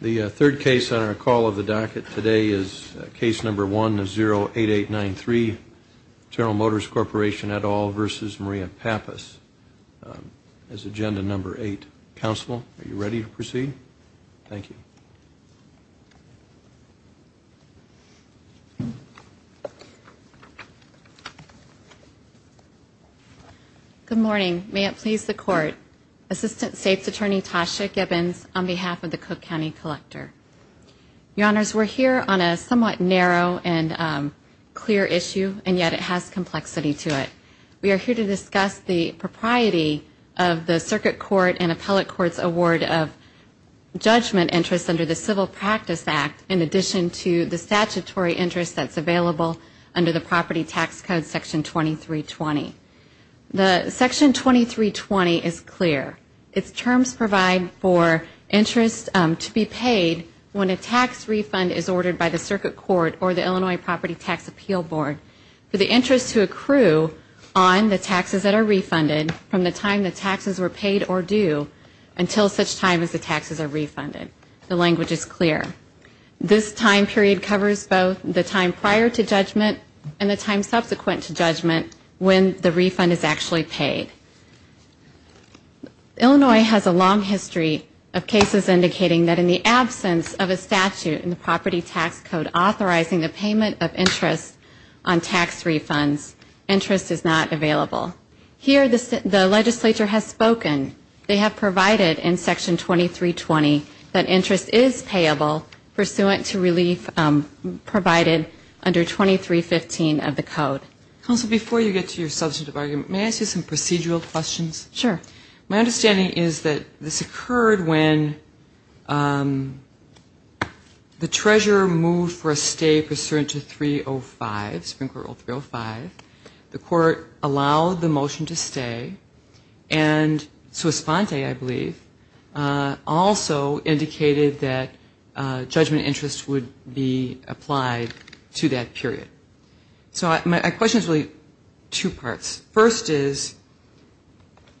The third case on our call of the docket today is case number 108893, General Motors Corporation et al. v. Maria Pappas. This is agenda number 8. Counsel, are you ready to proceed? Thank you. Good morning. May it please the Court. Assistant States Attorney Tasha Gibbons on behalf of the Cook County Collector. Your Honors, we're here on a somewhat narrow and clear issue, and yet it has complexity to it. We are here to discuss the propriety of the Circuit Court and Appellate Court's award of judgment interest under the Civil Practice Act in addition to the statutory interest that's available under the Property Tax Code Section 2320. The Section 2320 is clear. Its terms provide for interest to be paid when a tax refund is ordered by the Circuit Court or the Illinois Property Tax Appeal Board for the interest to accrue on the taxes that are refunded from the time the taxes were paid or due until such time as the taxes are refunded. The language is clear. This time period covers both the time prior to judgment and the time subsequent to judgment when the refund is actually paid. Illinois has a long history of cases indicating that in the absence of a statute in the Property Tax Code authorizing the payment of interest on tax refunds, interest is not available. Here the legislature has spoken. They have provided in Section 2320 that interest is payable pursuant to relief provided under 2315 of the code. Counsel, before you get to your substantive argument, may I ask you some procedural questions? Sure. My understanding is that this occurred when the treasurer moved for a stay pursuant to 305, Supreme Court Rule 305. The court allowed the motion to stay, and sua sponte, I believe, also indicated that judgment interest would be applied to that period. So my question is really two parts. First is,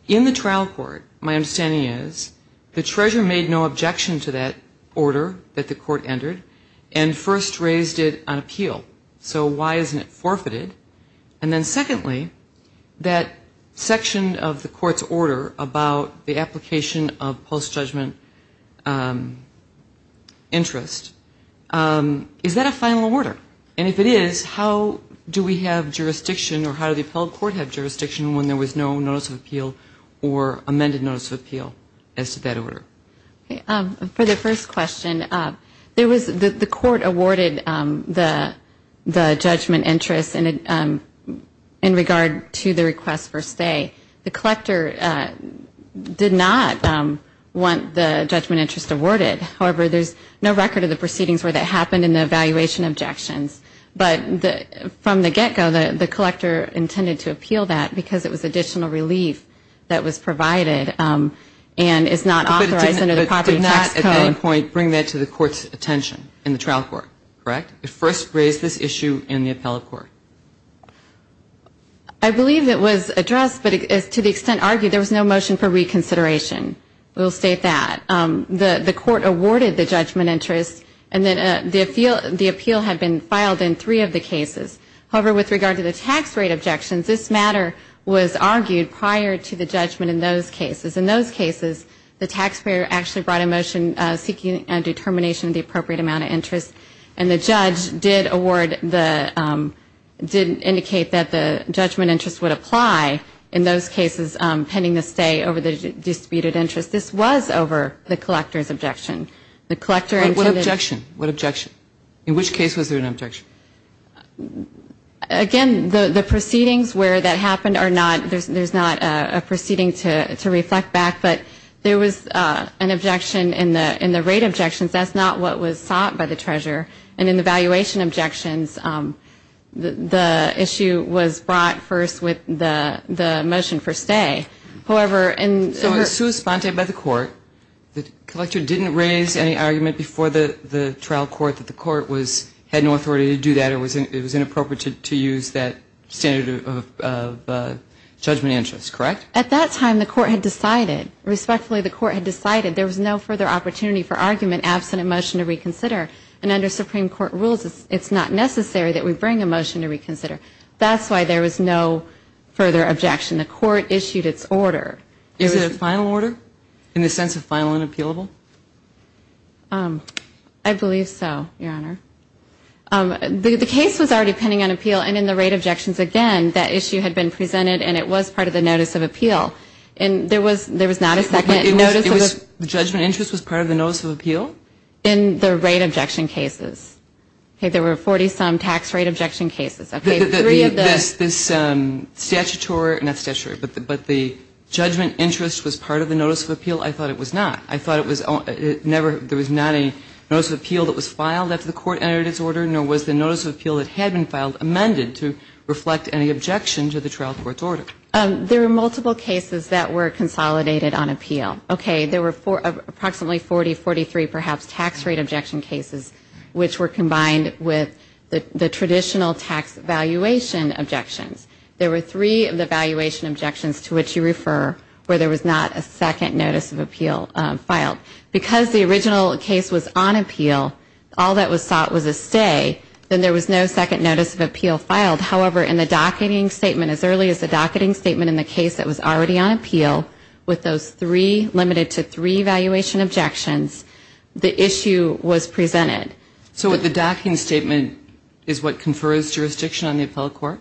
in the trial court, my understanding is the treasurer made no objection to that order that the court entered and first raised it on appeal. So why isn't it forfeited? And then secondly, that section of the court's order about the application of post-judgment interest, is that a final order? And if it is, how do we have jurisdiction or how does the appellate court have jurisdiction when there was no notice of appeal or amended notice of appeal as to that order? For the first question, the court awarded the judgment interest in regard to the request for stay. The collector did not want the judgment interest awarded. However, there's no record of the proceedings where that happened in the evaluation objections. But from the get-go, the collector intended to appeal that because it was additional relief that was provided and is not authorized under the property tax code. It did not at any point bring that to the court's attention in the trial court, correct? It first raised this issue in the appellate court. I believe it was addressed, but to the extent argued, there was no motion for reconsideration. We'll state that. The court awarded the judgment interest, and then the appeal had been filed in three of the cases. However, with regard to the tax rate objections, this matter was argued prior to the judgment in those cases. In those cases, the taxpayer actually brought a motion seeking a determination of the appropriate amount of interest, and the judge did award the, did indicate that the judgment interest would apply in those cases pending the stay over the disputed interest. This was over the collector's objection. What objection? What objection? In which case was there an objection? Again, the proceedings where that happened are not, there's not a proceeding to reflect back, but there was an objection in the rate objections. That's not what was sought by the treasurer. And in the valuation objections, the issue was brought first with the motion for stay. However, in her ---- by the court, the collector didn't raise any argument before the trial court that the court was, had no authority to do that or it was inappropriate to use that standard of judgment interest, correct? At that time, the court had decided. Respectfully, the court had decided. There was no further opportunity for argument absent a motion to reconsider. And under Supreme Court rules, it's not necessary that we bring a motion to reconsider. That's why there was no further objection. The court issued its order. Is it a final order in the sense of final and appealable? I believe so, Your Honor. The case was already pending on appeal. And in the rate objections, again, that issue had been presented and it was part of the notice of appeal. And there was not a second notice of appeal. The judgment interest was part of the notice of appeal? In the rate objection cases. There were 40-some tax rate objection cases. This statutory, not statutory, but the judgment interest was part of the notice of appeal? I thought it was not. I thought it was never, there was not a notice of appeal that was filed after the court entered its order, nor was the notice of appeal that had been filed amended to reflect any objection to the trial court's order. There were multiple cases that were consolidated on appeal. Okay. There were approximately 40, 43, perhaps, tax rate objection cases, which were combined with the traditional tax valuation objections. There were three of the valuation objections to which you refer where there was not a second notice of appeal filed. Because the original case was on appeal, all that was sought was a stay, then there was no second notice of appeal filed. However, in the docketing statement, as early as the docketing statement in the case that was already on appeal, with those three, limited to three valuation objections, the issue was presented. So with the docketing statement is what confers jurisdiction on the appellate court?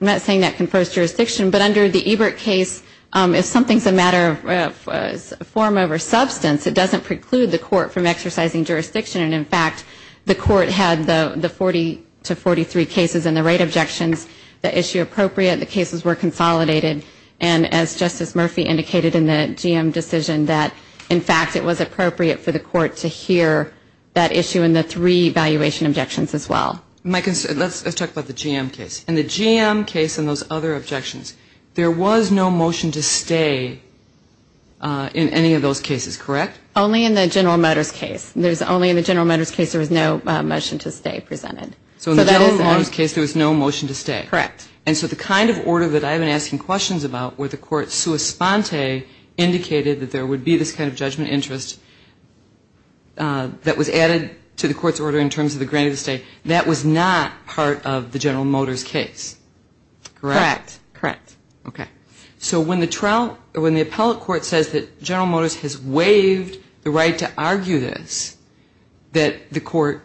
I'm not saying that confers jurisdiction, but under the Ebert case, if something's a matter of form over substance, it doesn't preclude the court from exercising jurisdiction. And, in fact, the court had the 40 to 43 cases in the rate objections, the issue appropriate, the cases were consolidated. And, as Justice Murphy indicated in the GM decision, that, in fact, it was appropriate for the court to hear that issue in the three valuation objections as well. Let's talk about the GM case. In the GM case and those other objections, there was no motion to stay in any of those cases, correct? Only in the General Motors case. Only in the General Motors case there was no motion to stay presented. So in the General Motors case there was no motion to stay. Correct. And so the kind of order that I've been asking questions about, where the court sua sponte indicated that there would be this kind of judgment interest that was added to the court's order in terms of the granting of the estate, that was not part of the General Motors case. Correct. Correct. Okay. So when the appellate court says that General Motors has waived the right to argue this, that the court,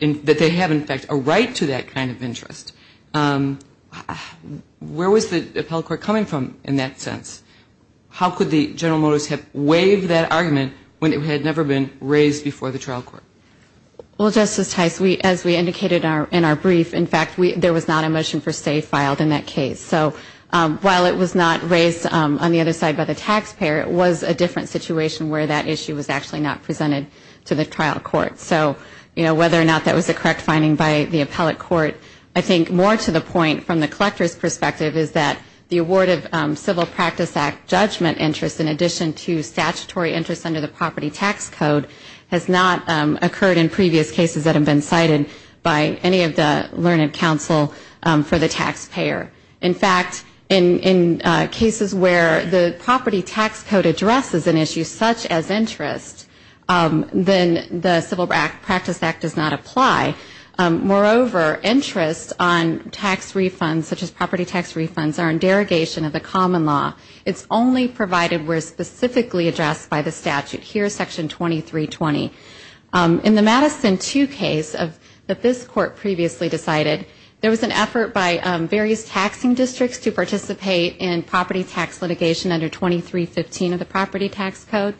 that they have, in fact, a right to that kind of interest, where was the appellate court coming from in that sense? How could the General Motors have waived that argument when it had never been raised before the trial court? Well, Justice Tice, as we indicated in our brief, in fact, there was not a motion for stay filed in that case. So while it was not raised on the other side by the taxpayer, it was a different situation where that issue was actually not presented to the trial court. So, you know, whether or not that was the correct finding by the appellate court, I think more to the point from the collector's perspective is that the award of Civil Practice Act judgment interest, in addition to statutory interest under the property tax code, has not occurred in previous cases that have been cited by any of the learned counsel for the taxpayer. In fact, in cases where the property tax code addresses an issue such as interest, then the Civil Practice Act does not apply. Moreover, interest on tax refunds, such as property tax refunds, are in derogation of the common law. It's only provided where specifically addressed by the statute. Here is Section 2320. In the Madison 2 case that this court previously decided, there was an effort by various taxing districts to participate in property tax litigation under 2315 of the property tax code.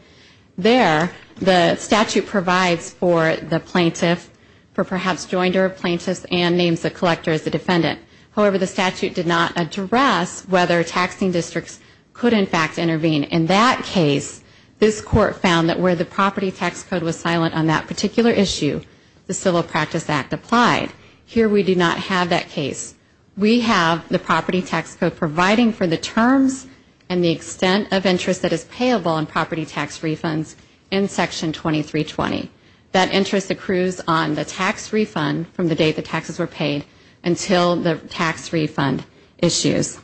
There, the statute provides for the plaintiff, for perhaps joinder of plaintiffs, and names the collector as the defendant. However, the statute did not address whether taxing districts could, in fact, intervene. In that case, this court found that where the property tax code was silent on that particular issue, the Civil Practice Act applied. Here, we do not have that case. We have the property tax code providing for the terms and the extent of interest that is payable on property tax refunds in Section 2320. That interest accrues on the tax refund from the date the taxes were paid until the tax refund issues.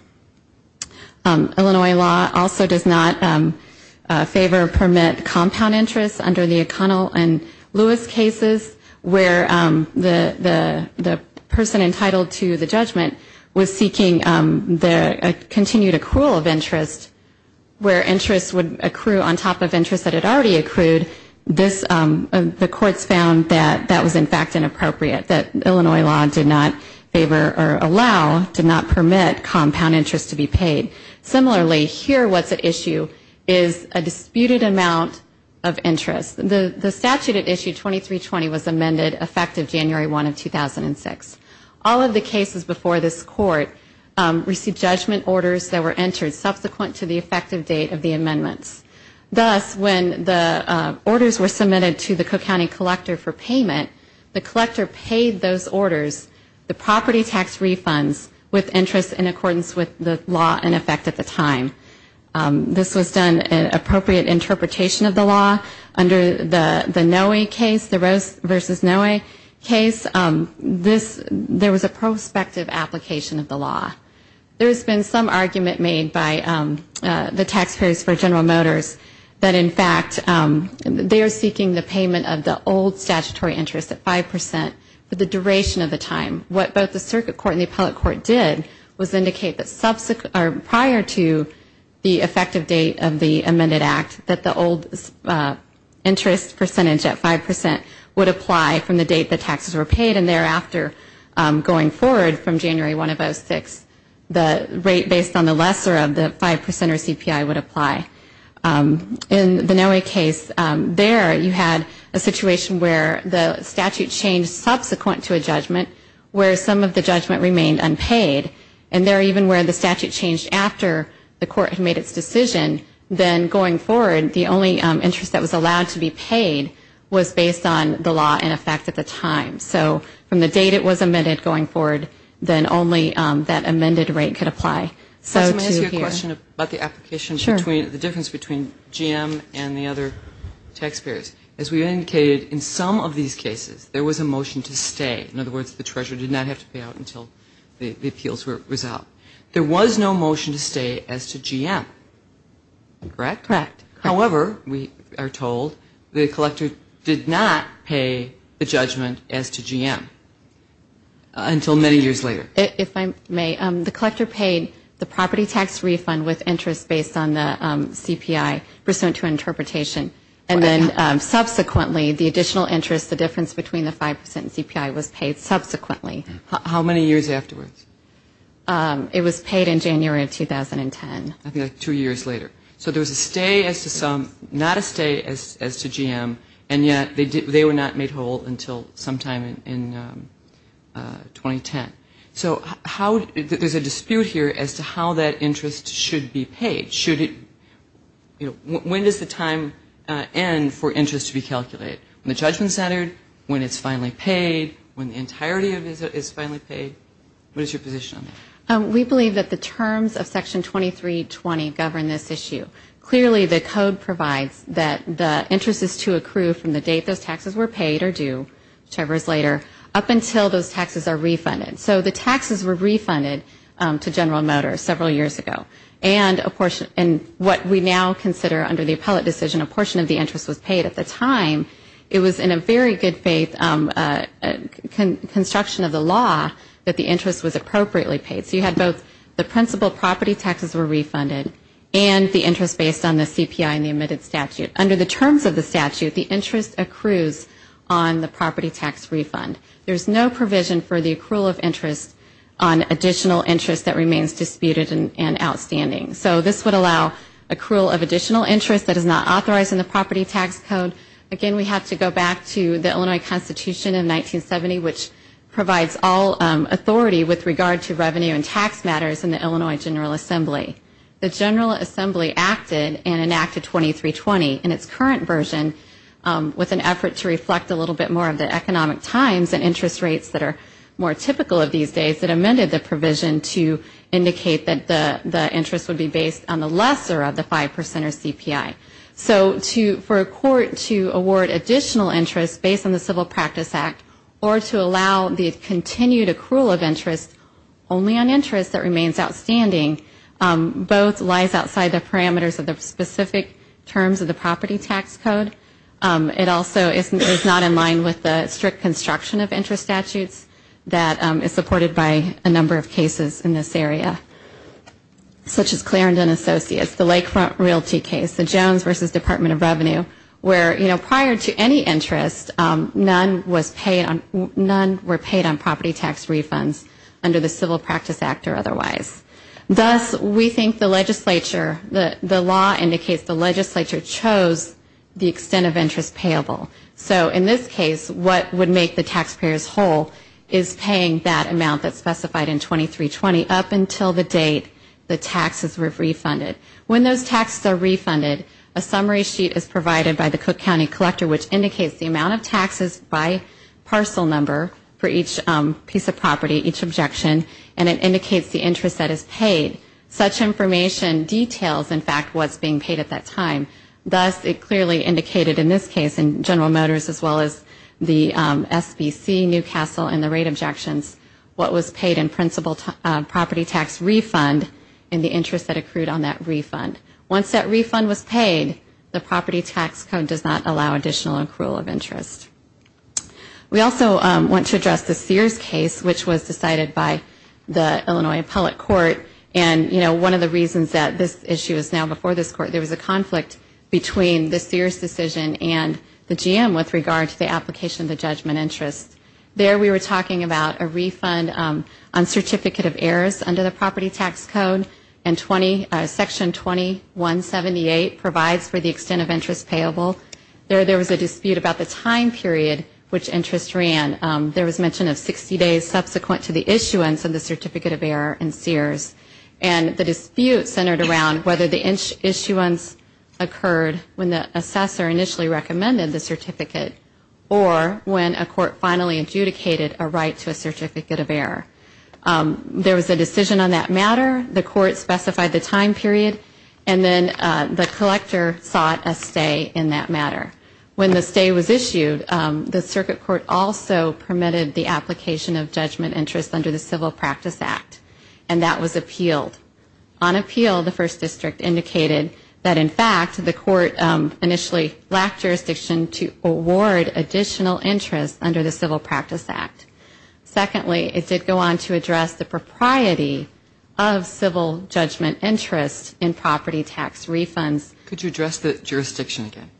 Illinois law also does not favor or permit compound interest under the O'Connell and Lewis cases, where the person entitled to the judgment was seeking the continued accrual of interest, where interest would accrue on top of interest that had already accrued. The courts found that that was, in fact, inappropriate, that Illinois law did not favor or allow, did not permit compound interest to be paid. Similarly, here what's at issue is a disputed amount of interest. The statute at issue 2320 was amended effective January 1 of 2006. All of the cases before this court received judgment orders that were entered subsequent to the effective date of the amendments. Thus, when the orders were submitted to the Cook County collector for payment, the collector paid those orders, the property tax refunds, with interest in accordance with the law in effect at the time. This was done in appropriate interpretation of the law under the Noe case, the Rose v. Noe case. There was a prospective application of the law. There has been some argument made by the taxpayers for General Motors that, in fact, they are seeking the payment of the old statutory interest at 5% for the duration of the time. What both the circuit court and the appellate court did was indicate that prior to the effective date of the amended act, that the old interest percentage at 5% would apply from the date the taxes were paid. And thereafter, going forward from January 1 of 2006, the rate based on the lesser of the 5% or CPI would apply. In the Noe case, there you had a situation where the statute changed subsequent to a judgment, where some of the judgment remained unpaid, and there even where the statute changed after the court had made its decision, then going forward, the only interest that was allowed to be paid was based on the law in effect at the time. So from the date it was amended going forward, then only that amended rate could apply. So to hear the difference between GM and the other taxpayers, as we indicated, in some of these cases, there was a motion to stay. In other words, the treasurer did not have to pay out until the appeals were resolved. There was no motion to stay as to GM, correct? Correct. However, we are told the collector did not pay the judgment as to GM until many years later. If I may, the collector paid the property tax refund with interest based on the CPI pursuant to interpretation. And then subsequently, the additional interest, the difference between the 5% and CPI was paid subsequently. How many years afterwards? It was paid in January of 2010. Two years later. So there was a stay as to some, not a stay as to GM, and yet they were not made whole until sometime in 2010. So how, there's a dispute here as to how that interest should be paid. Should it, you know, when does the time end for interest to be calculated? When the judgment's entered? When it's finally paid? When the entirety of it is finally paid? What is your position on that? We believe that the terms of Section 2320 govern this issue. Clearly, the code provides that the interest is to accrue from the date those taxes were paid or due, whichever is later, up until those taxes are refunded. So the taxes were refunded to General Motors several years ago. And what we now consider under the appellate decision, a portion of the interest was paid at the time. It was in a very good faith construction of the law that the interest was appropriately paid. So you had both the principal property taxes were refunded and the interest based on the CPI and the admitted statute. Under the terms of the statute, the interest accrues on the property tax refund. There's no provision for the accrual of interest on additional interest that remains disputed and outstanding. So this would allow accrual of additional interest that is not authorized in the property tax code. Again, we have to go back to the Illinois Constitution in 1970, which provides all authority with regard to revenue and tax matters in the Illinois General Assembly. The General Assembly acted and enacted 2320 in its current version with an effort to reflect a little bit more of the economic times and interest rates that are more typical of these days that amended the provision to indicate that the interest would be based on the lesser of the 5% or CPI. So for a court to award additional interest based on the Civil Practice Act or to allow the continued accrual of interest only on interest that remains outstanding, both lies outside the parameters of the specific terms of the property tax code. It also is not in line with the strict construction of interest statutes that is supported by a number of cases in this area, such as Clarendon Associates, the Lakefront Realty case, the Jones v. Department of Revenue, where prior to any interest, none were paid on property tax refunds under the Civil Practice Act or otherwise. Thus, we think the legislature, the law indicates the legislature chose the extent of interest payable. So in this case, what would make the taxpayers whole is paying that amount that's specified in 2320 up until the date the taxes were refunded. When those taxes are refunded, a summary sheet is provided by the Cook County Collector, which indicates the amount of taxes by parcel number for each piece of property, each objection, and it indicates the interest that is paid. Such information details, in fact, what's being paid at that time. Thus, it clearly indicated in this case, in General Motors as well as the SBC, Newcastle, and the rate objections, what was paid in principal property tax refund and the interest that accrued on that refund. Once that refund was paid, the property tax code does not allow additional accrual of interest. We also want to address the Sears case, which was decided by the Illinois Appellate Court. You know, one of the reasons that this issue is now before this court, there was a conflict between the Sears decision and the GM with regard to the application of the judgment interest. There we were talking about a refund on certificate of errors under the property tax code and Section 2178 provides for the extent of interest payable. There was a dispute about the time period which interest ran. There was mention of 60 days subsequent to the issuance of the certificate of error in Sears. And the dispute centered around whether the issuance occurred when the assessor initially recommended the certificate or when a court finally adjudicated a right to a certificate of error. There was a decision on that matter. The court specified the time period and then the collector sought a stay in that matter. When the stay was issued, the circuit court also permitted the application of judgment interest under the Civil Practice Act. And that was appealed. On appeal, the First District indicated that, in fact, the court initially lacked jurisdiction to award additional interest under the Civil Practice Act. Secondly, it did go on to address the propriety of civil judgment interest in property tax refunds. Could you address the jurisdiction again?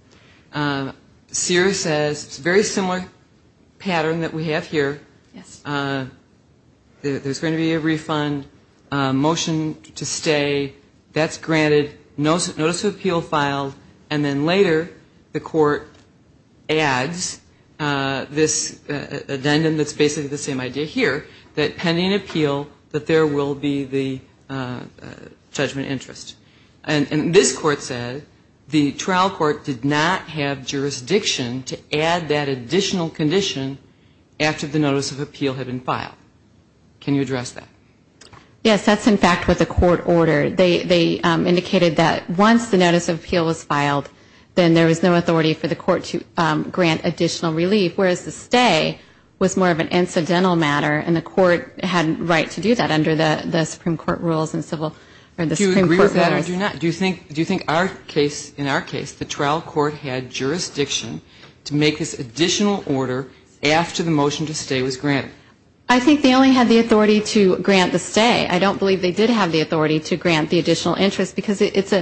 Sears says it's a very similar pattern that we have here. There's going to be a refund, a motion to stay. That's granted, notice of appeal filed, and then later the court adds this addendum that's basically the same idea here, that pending appeal, that there will be the judgment interest. And this court said the trial court did not have jurisdiction to add that additional condition after the notice of appeal had been filed. Can you address that? Yes, that's, in fact, what the court ordered. They indicated that once the notice of appeal was filed, then there was no authority for the court to grant additional relief, whereas the stay was more of an incidental matter, and the court had a right to do that under the Supreme Court rules. Do you agree with that or do you not? Do you think in our case the trial court had jurisdiction to make this additional order after the motion to stay was granted? I think they only had the authority to grant the stay. I don't believe they did have the authority to grant the additional interest, because it's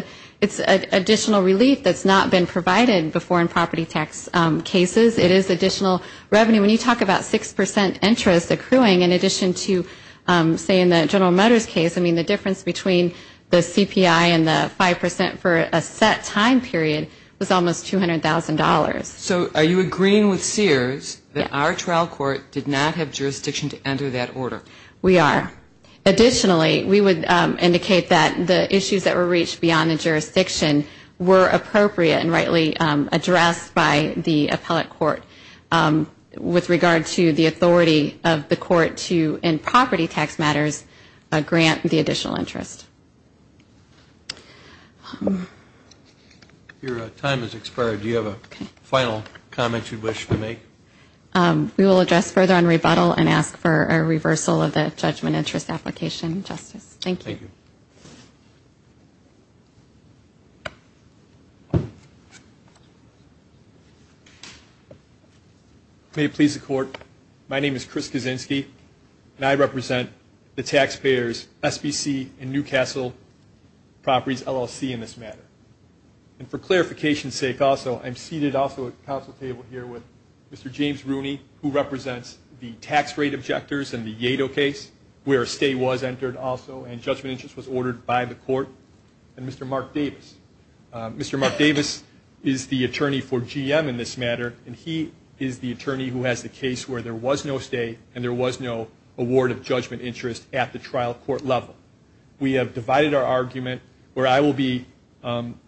additional relief that's not been provided before in property tax cases. It is additional revenue. When you talk about 6% interest accruing in addition to, say, in the General Motors case, I mean, the difference between the CPI and the 5% for a set time period was almost $200,000. So are you agreeing with Sears that our trial court did not have jurisdiction to enter that order? We are. Additionally, we would indicate that the issues that were reached beyond the jurisdiction were appropriate and rightly addressed by the appellate court with regard to the authority of the court to, in property tax matters, grant the additional interest. Your time has expired. Do you have a final comment you'd wish to make? We will address further on rebuttal and ask for a reversal of the judgment interest application, Justice. Thank you. May it please the Court, my name is Chris Kaczynski, and I represent the taxpayers, SBC and Newcastle Properties, LLC in this matter. And for clarification's sake also, I'm seated also at the council table here with Mr. James Rooney, who represents the tax rate objectors in the Yato case, where a stay was entered also, and judgment interest application. Judgment interest was ordered by the court, and Mr. Mark Davis. Mr. Mark Davis is the attorney for GM in this matter, and he is the attorney who has the case where there was no stay and there was no award of judgment interest at the trial court level. We have divided our argument, where I will be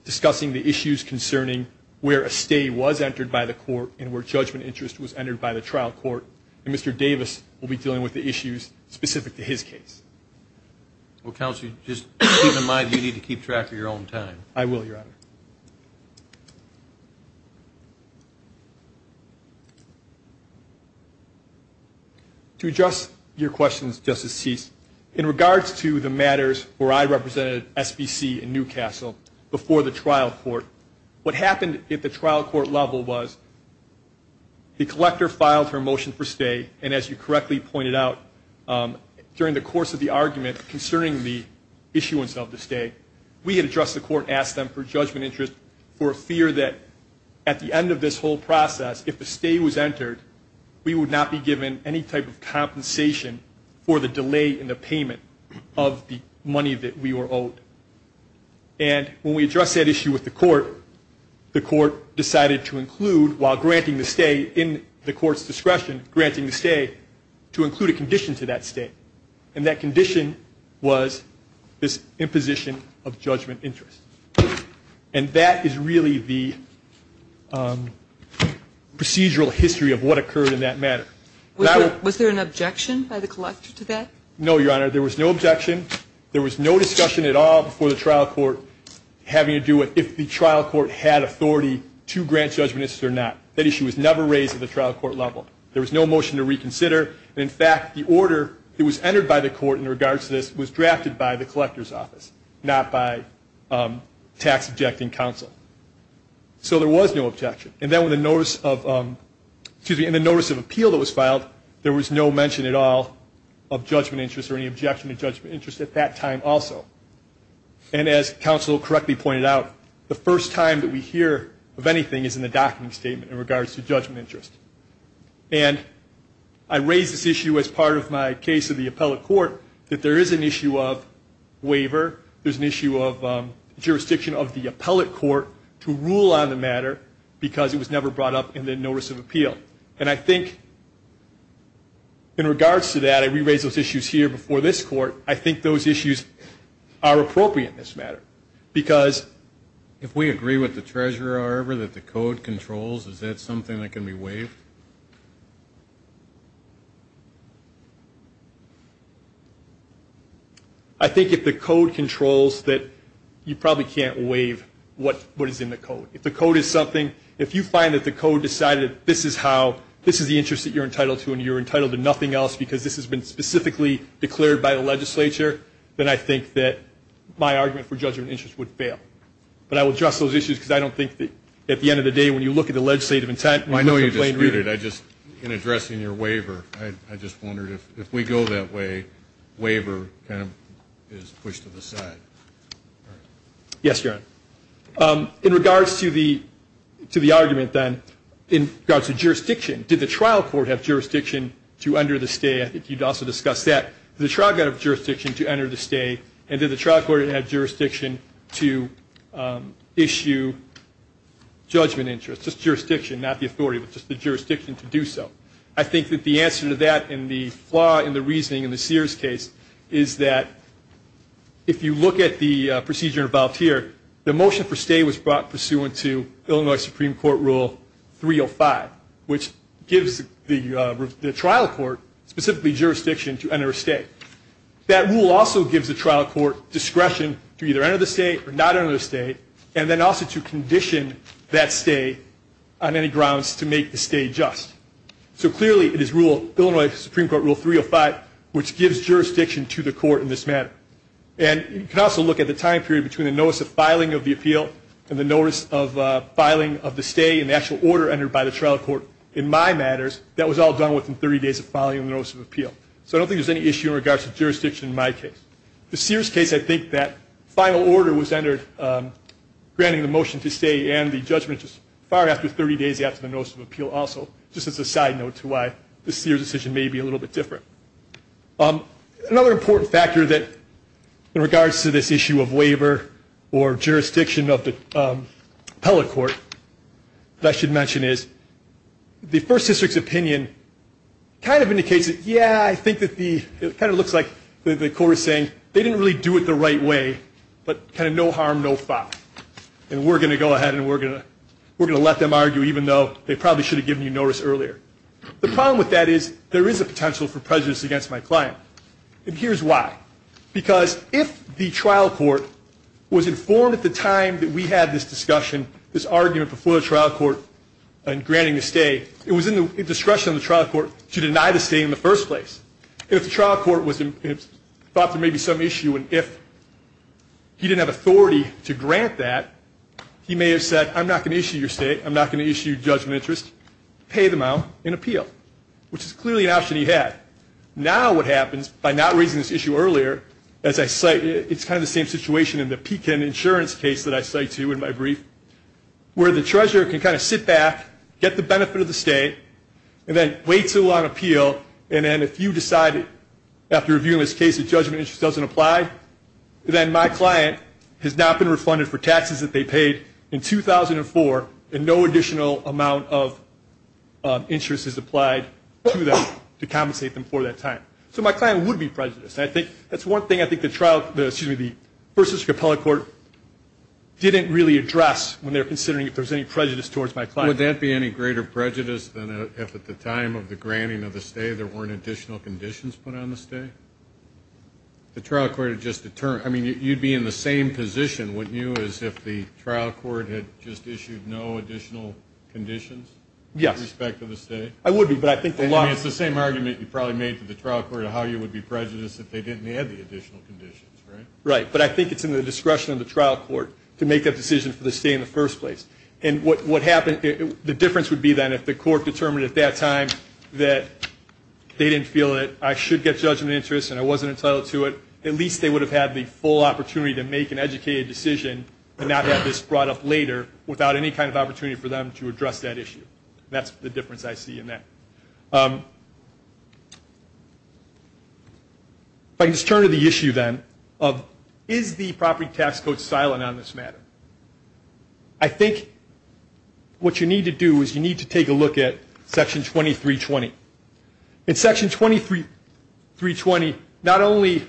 discussing the issues concerning where a stay was entered by the court and where judgment interest was entered by the trial court, and Mr. Davis will be dealing with the issues specific to his case. If you don't mind, you need to keep track of your own time. I will, Your Honor. To address your questions, Justice Cease, in regards to the matters where I represented SBC and Newcastle before the trial court, what happened at the trial court level was the collector filed her motion for stay, and as you correctly pointed out, during the course of the argument concerning the judgment interest, there was no stay. We had addressed the court and asked them for judgment interest for a fear that at the end of this whole process, if a stay was entered, we would not be given any type of compensation for the delay in the payment of the money that we were owed. And when we addressed that issue with the court, the court decided to include, while granting the stay in the court's discretion, granting the stay, to include a condition to that stay. And that condition was this imposition of judgment interest. And that is really the procedural history of what occurred in that matter. Was there an objection by the collector to that? No, Your Honor. There was no objection. There was no discussion at all before the trial court having to do with if the trial court had authority to grant judgment interest or not. That issue was never raised at the trial court level. There was no motion to reconsider. And in fact, the order that was entered by the court in regards to this was drafted by the collector's office, not by tax objecting counsel. So there was no objection. And then when the notice of, excuse me, in the notice of appeal that was filed, there was no mention at all of judgment interest or any objection to judgment interest at that time also. And as counsel correctly pointed out, the first time that we hear of anything is in the document statement in regards to judgment interest. And I raised this issue as part of my case of the appellate court, that there is an issue of waiver. There's an issue of jurisdiction of the appellate court to rule on the matter because it was never brought up in the notice of appeal. And I think in regards to that, I re-raised those issues here before this court, I think those issues have been brought up in the notice of appeal. And I think those issues are appropriate in this matter. Because if we agree with the treasurer, however, that the code controls, is that something that can be waived? I think if the code controls that you probably can't waive what is in the code. If the code is something, if you find that the code decided this is how, this is the interest that you're entitled to and you're entitled to nothing else because this has been specifically declared by the legislature, then I think that my argument for judgment interest would fail. But I would address those issues because I don't think that at the end of the day when you look at the legislative intent. I know you disputed, I just, in addressing your waiver, I just wondered if we go that way, waiver kind of is pushed to the side. Yes, Your Honor. In regards to the argument then, in regards to jurisdiction, did the trial court have jurisdiction to enter the stay? I think you'd also discuss that. Did the trial court have jurisdiction to enter the stay and did the trial court have jurisdiction to issue judgment interest? Just jurisdiction, not the authority, but just the jurisdiction to do so. I think that the answer to that and the flaw in the reasoning in the Sears case is that if you look at the procedure involved here, the motion for stay was brought pursuant to Illinois Supreme Court Rule 305, which gives the trial court specifically jurisdiction to enter a stay. That rule also gives the trial court discretion to either enter the stay or not enter the stay and then also to condition that stay on any grounds to make the stay just. So clearly it is Illinois Supreme Court Rule 305, which gives jurisdiction to the court in this matter. And you can also look at the time period between the notice of filing of the appeal and the notice of filing of the stay and the actual order entered by the trial court. In my matters, that was all done within 30 days of filing the notice of appeal. So I don't think there's any issue in regards to jurisdiction in my case. The Sears case, I think that final order was entered granting the motion to stay and the judgment just far after 30 days after the notice of appeal also, just as a side note to why the Sears decision may be a little bit different. Another important factor in regards to this issue of waiver or jurisdiction of the appellate court that I should mention is the First District's opinion kind of indicates that, yeah, I think that the, it kind of looks like the court is saying they didn't really do it the right way, but kind of no harm, no foul. And we're going to go ahead and we're going to let them argue even though they probably should have given you notice earlier. The problem with that is there is a potential for prejudice against my client. And here's why. Because if the trial court was informed at the time that we had this discussion, this argument before the trial court in granting the stay, it was in the discretion of the trial court to deny the stay in the first place. And if the trial court was, thought there may be some issue and if he didn't have authority to grant that, he may have said, I'm not going to issue your stay, I'm not going to issue judgment of interest, pay them out and appeal, which is clearly an option he had. Now what happens by not raising this issue earlier, as I cite, it's kind of the same situation in the Pekin insurance case that I cite to you in my brief, where the treasurer can kind of sit back, get the benefit of the stay, and then wait to appeal, and then if you decide after reviewing this case that judgment of interest doesn't apply, then my client has not been refunded for taxes that they paid in 2004 and no additional amount of interest is applied to them to compensate them for that time. So my client would be prejudiced. I think that's one thing I think the trial, excuse me, the first district appellate court didn't really address when they were considering if there was any prejudice towards my client. Would that be any greater prejudice than if at the time of the granting of the stay there weren't additional conditions put on the stay? The trial court had just determined, I mean, you'd be in the same position, wouldn't you, as if the trial court had just issued no additional conditions? Yes. With respect to the stay? I would be, but I think the law... I mean, it's the same argument you probably made to the trial court of how you would be prejudiced if they didn't add the additional conditions, right? Right, but I think it's in the discretion of the trial court to make that decision for the stay in the first place. And what happened, the difference would be then if the court determined at that time that they didn't feel that I should get judgment of interest and I wasn't entitled to it, at least they would have had the full opportunity to make an educated decision and not have this brought up later without any kind of opportunity for them to address that issue. That's the difference I see in that. If I can just turn to the issue then of is the property tax code silent on this matter? I think what you need to do is you need to take a look at Section 2320. In Section 2320, not only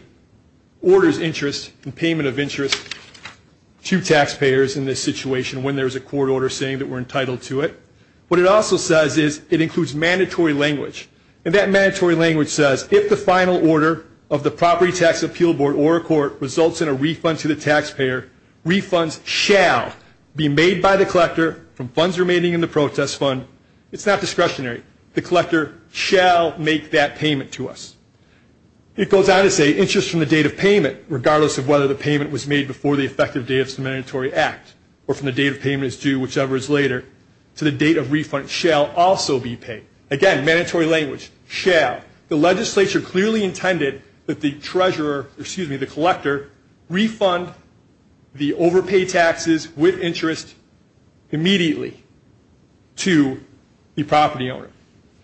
orders interest and payment of interest to taxpayers in this situation when there's a court order saying that we're entitled to it, what it also says is it includes mandatory language. And that mandatory language says if the final order of the Property Tax Appeal Board or a court results in a refund to the taxpayer, refunds shall be made by the collector from funds remaining in the protest fund. It's not discretionary. The collector shall make that payment to us. It goes on to say interest from the date of payment, regardless of whether the payment was made before the effective date of the mandatory act or from the date of payment is due, whichever is later, to the date of refund shall also be paid. Again, mandatory language, shall. The legislature clearly intended that the collector refund the overpaid taxes with interest immediately to the property owner.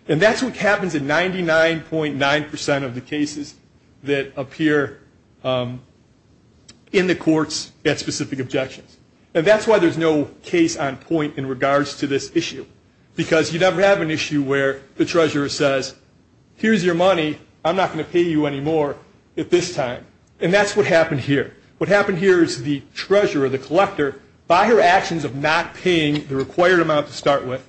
And that's what happens in 99.9% of the cases that appear in the courts at specific objections. And that's why there's no case on point in regards to this issue because you never have an issue where the treasurer says, here's your money, I'm not going to pay you anymore at this time. And that's what happened here. What happened here is the treasurer, the collector, by her actions of not paying the required amount to start with,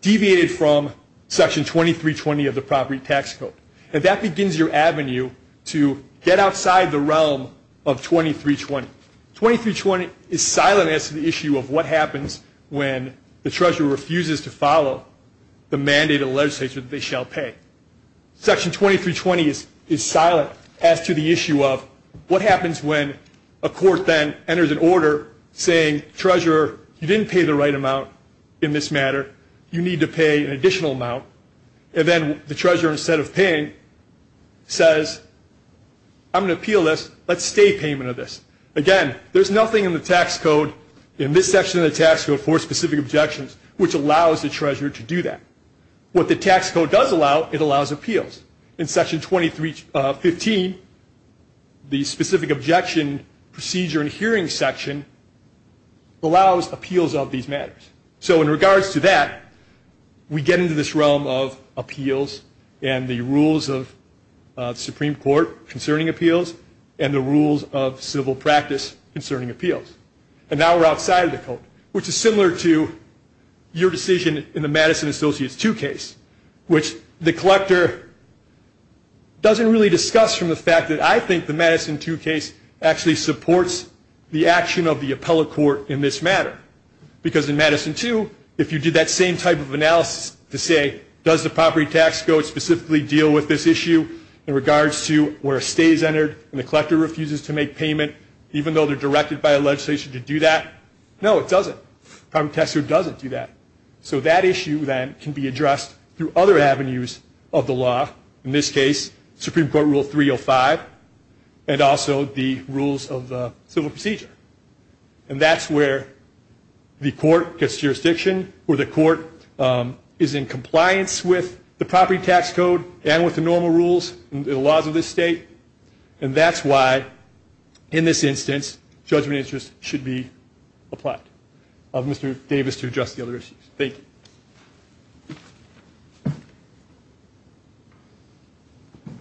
deviated from Section 2320 of the Property Tax Code. And that begins your avenue to get outside the realm of 2320. 2320 is silent as to the issue of what happens when the treasurer refuses to follow the mandate of the legislature that they shall pay. Section 2320 is silent as to the issue of what happens when a court then enters an order saying, treasurer, you didn't pay the right amount in this matter, you need to pay an additional amount. And then the treasurer, instead of paying, says, I'm going to appeal this, let's stay payment of this. Again, there's nothing in the tax code, in this section of the tax code, for specific objections which allows the treasurer to do that. What the tax code does allow, it allows appeals. In Section 2315, the specific objection procedure and hearing section allows appeals of these matters. So in regards to that, we get into this realm of appeals and the rules of the Supreme Court concerning appeals and the rules of civil practice concerning appeals. And now we're outside of the code, which is similar to your decision in the Madison Associates 2 case, which the collector doesn't really discuss from the fact that I think the Madison 2 case actually supports the action of the appellate court in this matter. Because in Madison 2, if you did that same type of analysis to say, does the property tax code specifically deal with this issue in regards to where a stay is entered and the collector refuses to make payment, even though they're directed by legislation to do that? No, it doesn't. The property tax code doesn't do that. So that issue then can be addressed through other avenues of the law, in this case, Supreme Court Rule 305, and also the rules of the civil procedure. And that's where the court gets jurisdiction or the court is in compliance with the property tax code and with the normal rules and the laws of this state. And that's why, in this instance, judgment interest should be applied. I'll leave it to Mr. Davis to address the other issues. Thank you. Thank you.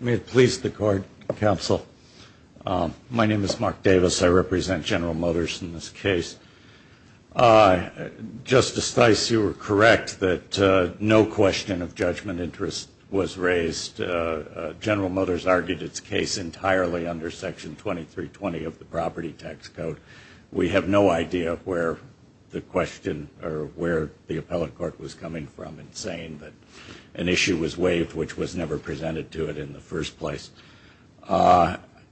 May it please the court, counsel. My name is Mark Davis. I represent General Motors in this case. Justice Theis, you were correct that no question of judgment interest was raised. General Motors argued its case entirely under Section 2320 of the property tax code. We have no idea where the question or where the appellate court was coming from in saying that an issue was waived which was never presented to it in the first place.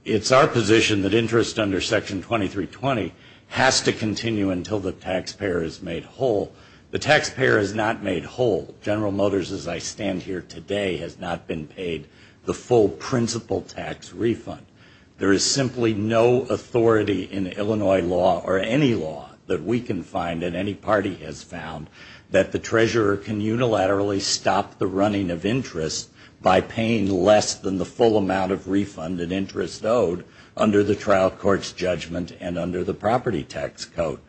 It's our position that interest under Section 2320 has to continue until the taxpayer is made whole. The taxpayer is not made whole. General Motors, as I stand here today, has not been paid the full principal tax refund. There is simply no authority in Illinois law or any law that we can find that any party has found that the treasurer can unilaterally stop the running of interest by paying less than the full amount of refund and interest owed under the trial court's judgment and under the property tax code.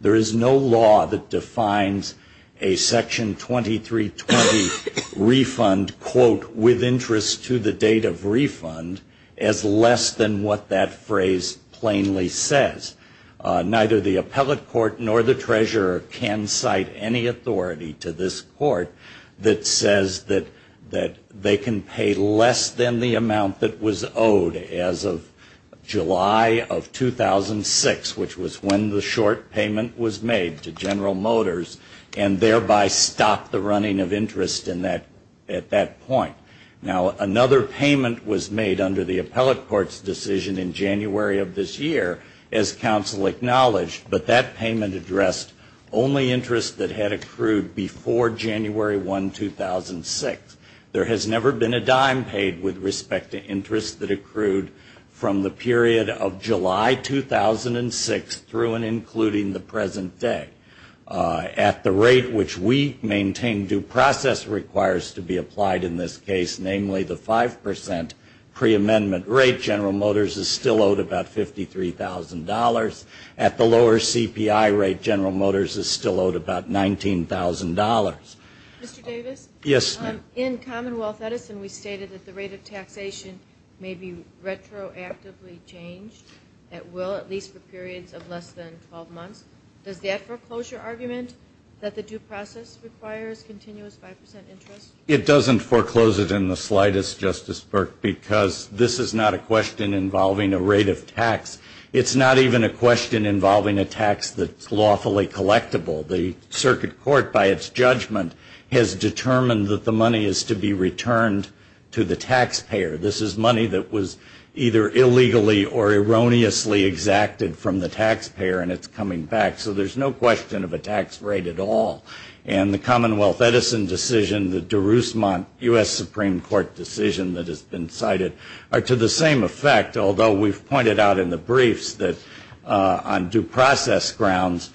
There is no law that defines a Section 2320 refund, quote, with interest to the date of refund as less than what that phrase plainly says. Neither the appellate court nor the treasurer can cite any authority to this court that says that they can pay less than the amount that was owed as of July of 2006, which was when the short payment was made to General Motors and thereby stopped the running of interest at that point. Now, another payment was made under the appellate court's decision in January of this year, as counsel acknowledged, but that payment addressed only interest that had accrued before January 1, 2006. There has never been a dime paid with respect to interest that accrued from the period of July 2006 through and including the present day. At the rate which we maintain due process requires to be applied in this case, namely the 5% preamendment rate, General Motors is still owed about $53,000. At the lower CPI rate, General Motors is still owed about $19,000. Mr. Davis? Yes, ma'am. In Commonwealth Edison, we stated that the rate of taxation may be retroactively changed. It will, at least for periods of less than 12 months. Does that foreclosure argument that the due process requires continuous 5% interest? It doesn't foreclose it in the slightest, Justice Burke, because this is not a question involving a rate of tax. It's not even a question involving a tax that's lawfully collectible. The circuit court, by its judgment, has determined that the money is to be returned to the taxpayer. This is money that was either illegally or erroneously exacted from the taxpayer, and it's coming back. So there's no question of a tax rate at all. And the Commonwealth Edison decision, the Darusmont U.S. Supreme Court decision that has been cited, are to the same effect, although we've pointed out in the briefs that on due process grounds,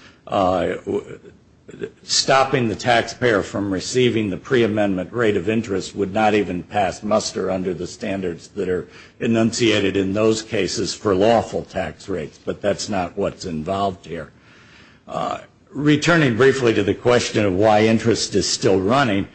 stopping the taxpayer from receiving the preamendment rate of interest would not even pass muster under the standards that are enunciated in those cases for lawful tax rates. But that's not what's involved here. Returning briefly to the question of why interest is still running,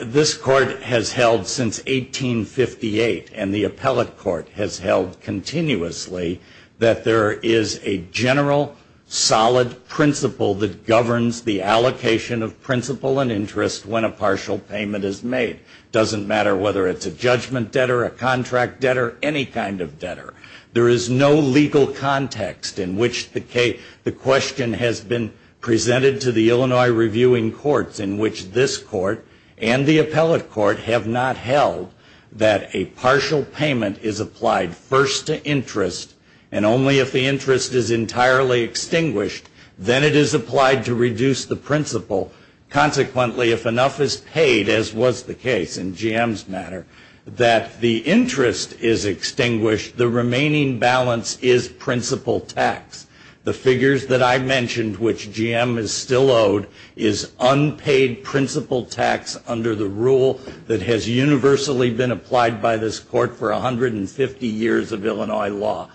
this court has held since 1858, and the appellate court has held continuously, that there is a general, solid principle that governs the allocation of principle and interest when a partial payment is made. It doesn't matter whether it's a judgment debtor, a contract debtor, any kind of debtor. There is no legal context in which the question has been presented to the Illinois reviewing courts in which this court and the appellate court have not held that a partial payment is applied first to interest, and only if the interest is entirely extinguished, then it is applied to reduce the principle. Consequently, if enough is paid, as was the case in GM's matter, that the interest is extinguished, the remaining balance is principle tax. The figures that I mentioned, which GM is still owed, is unpaid principle tax under the rule that has universally been applied by this court for 150 years of Illinois law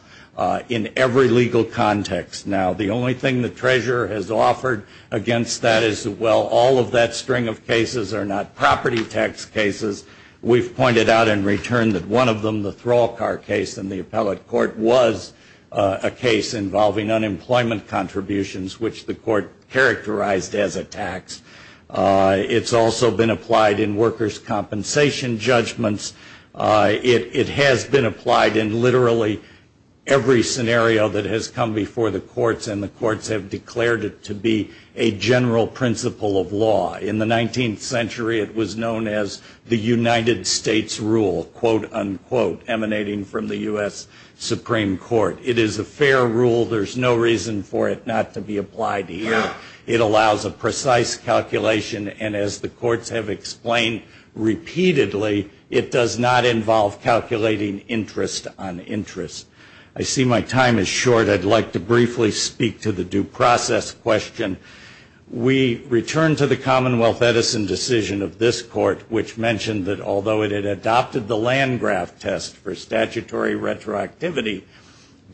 in every legal context. Now, the only thing the treasurer has offered against that is, well, all of that string of cases are not property tax cases. We've pointed out in return that one of them, the throw-all car case in the appellate court, was a case involving unemployment contributions, which the court characterized as a tax. It's also been applied in workers' compensation judgments. It has been applied in literally every scenario that has come before the courts, and the courts have declared it to be a general principle of law. In the 19th century, it was known as the United States rule, quote, unquote, emanating from the U.S. Supreme Court. It is a fair rule. There's no reason for it not to be applied here. It allows a precise calculation, and as the courts have explained repeatedly, it does not involve calculating interest on interest. I see my time is short. I'd like to briefly speak to the due process question. We return to the Commonwealth Edison decision of this court, which mentioned that although it had adopted the Landgraf test for statutory retroactivity,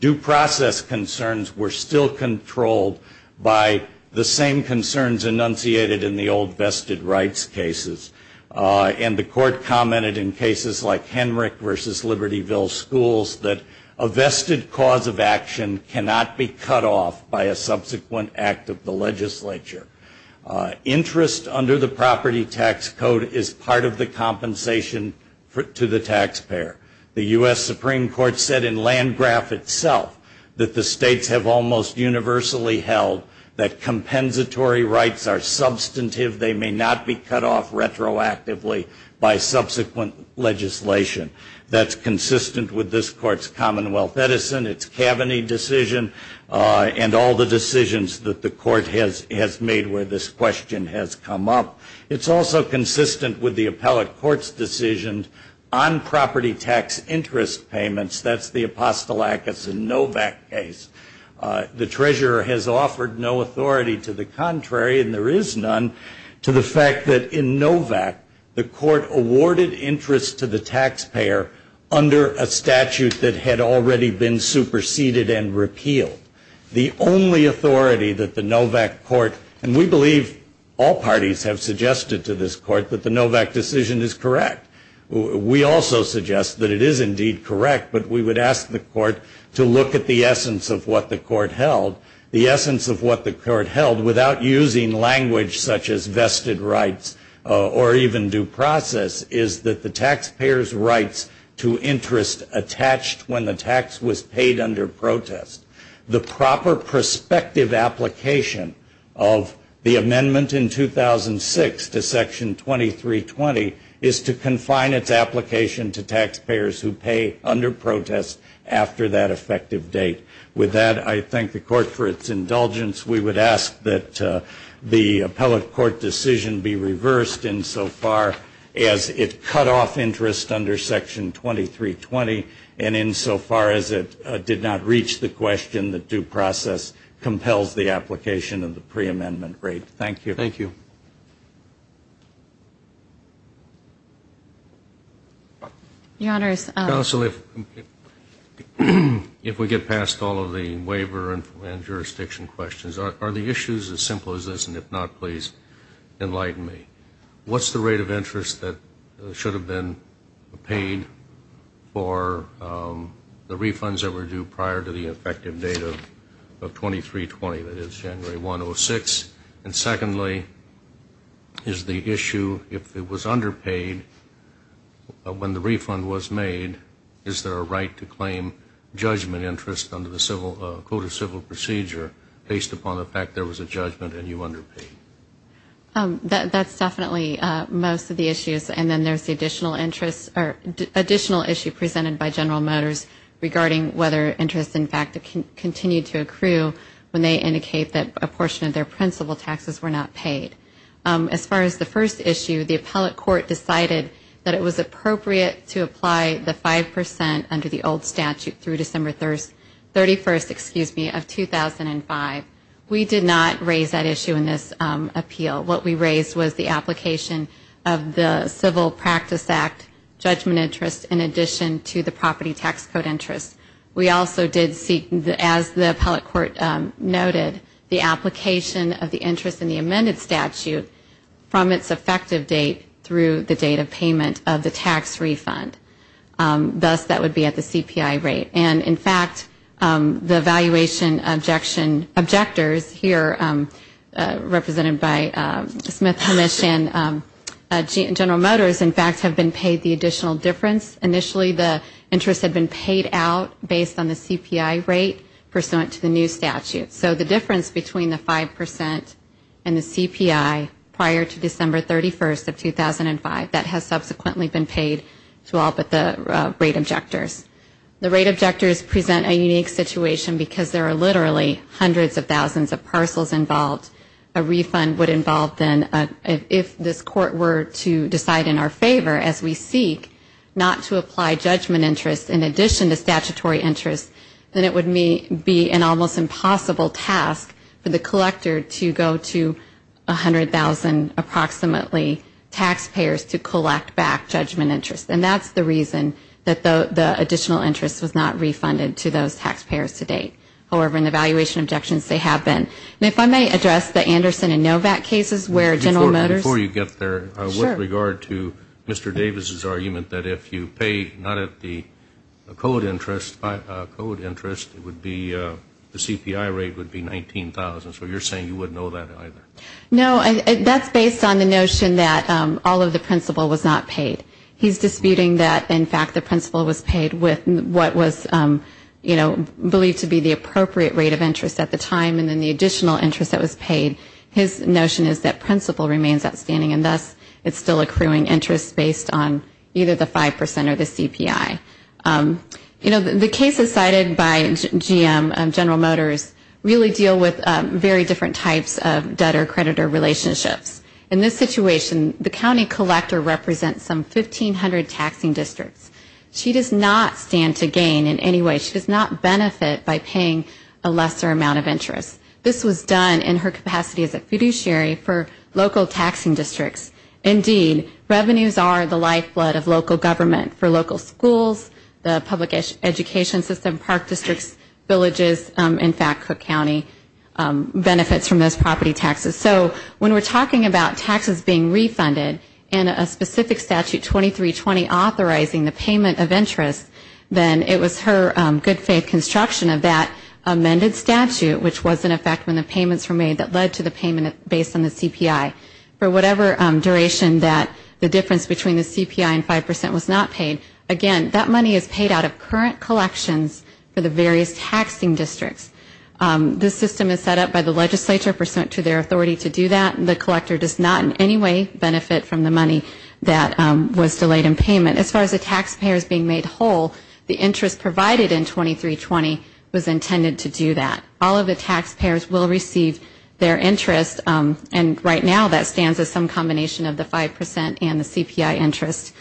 due process concerns were still controlled by the same concerns enunciated in the old vested rights cases. And the court commented in cases like Henrick versus Libertyville Schools that a vested cause of action cannot be cut off by a subsequent act of the legislature. Interest under the property tax code is part of the compensation to the taxpayer. The U.S. Supreme Court said in Landgraf itself that the states have almost universally held that compensatory rights are substantive. They may not be cut off retroactively by subsequent legislation. That's consistent with this court's Commonwealth Edison, its Kaveny decision, and all the decisions that the court has made where this question has come up. It's also consistent with the appellate court's decision on property tax interest payments. That's the Apostolakis and Novak case. The treasurer has offered no authority to the contrary, and there is none, to the fact that in Novak the court awarded interest to the taxpayer under a statute that had already been superseded and repealed. The only authority that the Novak court, and we believe all parties have suggested to this court that the Novak decision is correct. We also suggest that it is indeed correct, but we would ask the court to look at the essence of what the court held. The essence of what the court held without using language such as vested rights or even due process is that the taxpayer's rights to interest attached when the tax was paid under protest. The proper prospective application of the amendment in 2006 to Section 2320 is to confine its application to taxpayers who pay under protest after that effective date. With that, I thank the court for its indulgence. We would ask that the appellate court decision be reversed insofar as it cut off interest under Section 2320 and insofar as it did not reach the question that due process compels the application of the preamendment rate. Thank you. Thank you. Your Honors. Counsel, if we get past all of the waiver and jurisdiction questions, are the issues as simple as this? And if not, please enlighten me. What's the rate of interest that should have been paid for the refunds that were due prior to the effective date of 2320, that is January 1, 2006? And secondly, is the issue if it was underpaid when the refund was made, is there a right to claim judgment interest under the civil procedure based upon the fact there was a judgment and you underpaid? That's definitely most of the issues. And then there's the additional issue presented by General Motors regarding whether interest, in fact, continued to accrue when they indicate that a portion of their principal taxes were not paid. As far as the first issue, the appellate court decided that it was appropriate to apply the 5 percent under the old statute through December 31st of 2005. We did not raise that issue in this appeal. What we raised was the application of the Civil Practice Act judgment interest in addition to the property tax code interest. We also did seek, as the appellate court noted, the application of the interest in the amended statute from its effective date through the date of payment of the tax refund. Thus, that would be at the CPI rate. And, in fact, the valuation objectors here, represented by Smith, and General Motors, in fact, have been paid the additional difference. Initially, the interest had been paid out based on the CPI rate pursuant to the new statute. So the difference between the 5 percent and the CPI prior to December 31st of 2005, that has subsequently been paid to all but the rate objectors. The rate objectors present a unique situation because there are literally hundreds of thousands of parcels involved. A refund would involve, then, if this court were to decide in our favor, as we seek not to apply judgment interest in addition to statutory interest, then it would be an almost impossible task for the collector to go to 100,000, approximately, taxpayers to collect back judgment interest. And that's the reason that the additional interest was not refunded to those taxpayers to date. However, in the valuation objections, they have been. And if I may address the Anderson and Novak cases where General Motors. Before you get there, with regard to Mr. Davis's argument that if you pay not at the code interest, it would be the CPI rate would be 19,000. So you're saying you wouldn't know that either? No, that's based on the notion that all of the principal was not paid. He's disputing that, in fact, the principal was paid with what was, you know, believed to be the appropriate rate of interest at the time and then the additional interest that was paid. His notion is that principal remains outstanding, and thus it's still accruing interest based on either the 5% or the CPI. You know, the cases cited by GM, General Motors, really deal with very different types of debtor-creditor relationships. In this situation, the county collector represents some 1,500 taxing districts. She does not stand to gain in any way. She does not benefit by paying a lesser amount of interest. This was done in her capacity as a fiduciary for local taxing districts. Indeed, revenues are the lifeblood of local government for local schools, the public education system, park districts, villages, in fact, Cook County benefits from those property taxes. So when we're talking about taxes being refunded and a specific statute 2320 authorizing the payment of interest, then it was her good faith construction of that amended statute, which was in effect when the payments were made that led to the payment based on the CPI. For whatever duration that the difference between the CPI and 5% was not paid, again, that money is paid out of current collections for the various taxing districts. This system is set up by the legislature pursuant to their authority to do that. The collector does not in any way benefit from the money that was delayed in payment. As far as the taxpayers being made whole, the interest provided in 2320 was intended to do that. All of the taxpayers will receive their interest, and right now that stands as some combination of the 5% and the CPI interest,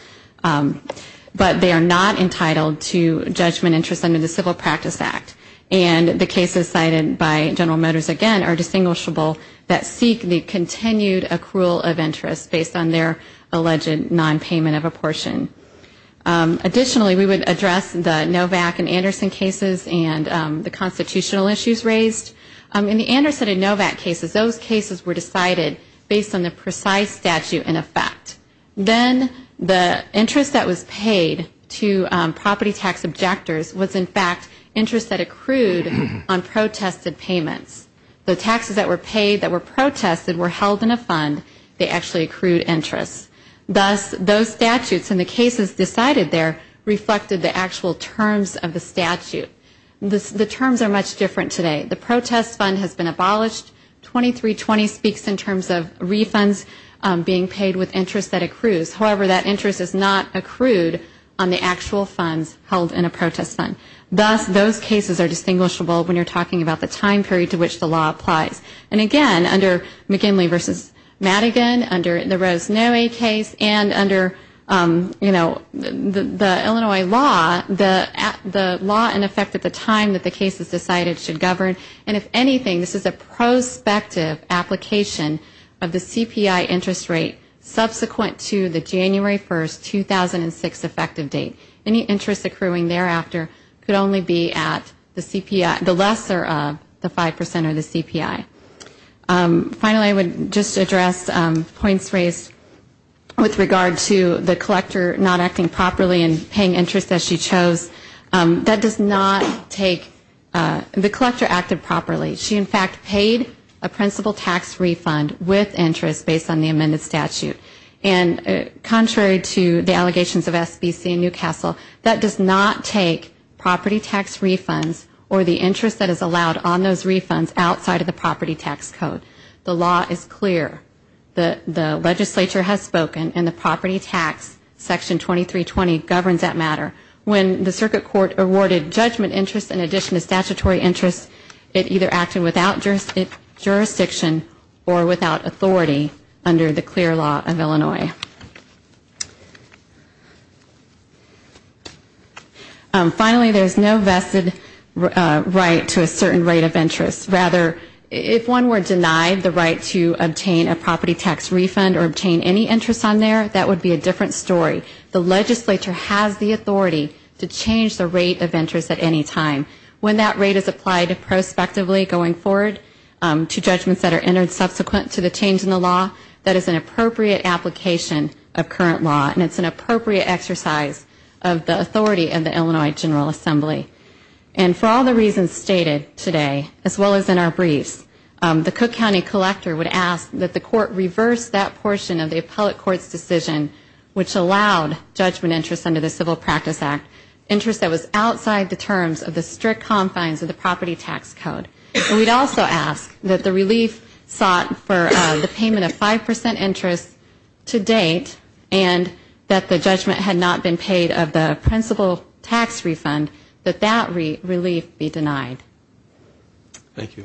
but they are not entitled to judgment interest under the Civil Practice Act. And the cases cited by General Motors, again, are distinguishable that seek the continued accrual of interest based on their alleged non-payment of a portion. Additionally, we would address the NOVAC and Anderson cases and the constitutional issues raised. In the Anderson and NOVAC cases, those cases were decided based on the precise statute in effect. Then the interest that was paid to property tax objectors was in fact interest that accrued on protested payments. The taxes that were paid that were protested were held in a fund. They actually accrued interest. Thus, those statutes and the cases decided there reflected the actual terms of the statute. The terms are much different today. The protest fund has been abolished. 2320 speaks in terms of refunds being paid with interest that accrues. However, that interest is not accrued on the actual funds held in a protest fund. Thus, those cases are distinguishable when you're talking about the time period to which the law applies. And again, under McKinley v. Madigan, under the Rosemary case, and under, you know, the Illinois law, the law in effect at the time that the case is decided should govern. And if anything, this is a prospective application of the CPI interest rate subsequent to the January 1, 2006 effective date. Any interest accruing thereafter could only be at the CPI, the lesser of the 5% of the CPI. Finally, I would just address points raised with regard to the collector not acting properly and paying interest as she chose. That does not take, the collector acted properly. She, in fact, paid a principal tax refund with interest based on the amended statute. And contrary to the allegations of SBC and Newcastle, that does not take property tax refunds or the interest that is allowed on those refunds outside of the property tax code. The law is clear. The legislature has spoken and the property tax, Section 2320, governs that matter. When the circuit court awarded judgment interest in addition to statutory interest, it either acted without jurisdiction or without authority under the clear law of Illinois. Finally, there is no vested right to a certain rate of interest. Rather, if one were denied the right to obtain a property tax refund or obtain any interest on there, that would be a different story. The legislature has the authority to change the rate of interest at any time. When that rate is applied prospectively going forward to judgments that are entered subsequent to the change in the law, that is an appropriate application of current law and it's an appropriate exercise of the authority of the Illinois General Assembly. And for all the reasons stated today, as well as in our briefs, the Cook County Collector would ask that the court reverse that portion of the appellate court's decision which allowed judgment interest under the Civil Practice Act, interest that was outside the terms of the strict confines of the property tax code. And we'd also ask that the relief sought for the payment of 5 percent interest to date and that the judgment had not been paid of the principal tax refund, that that relief be denied. Thank you.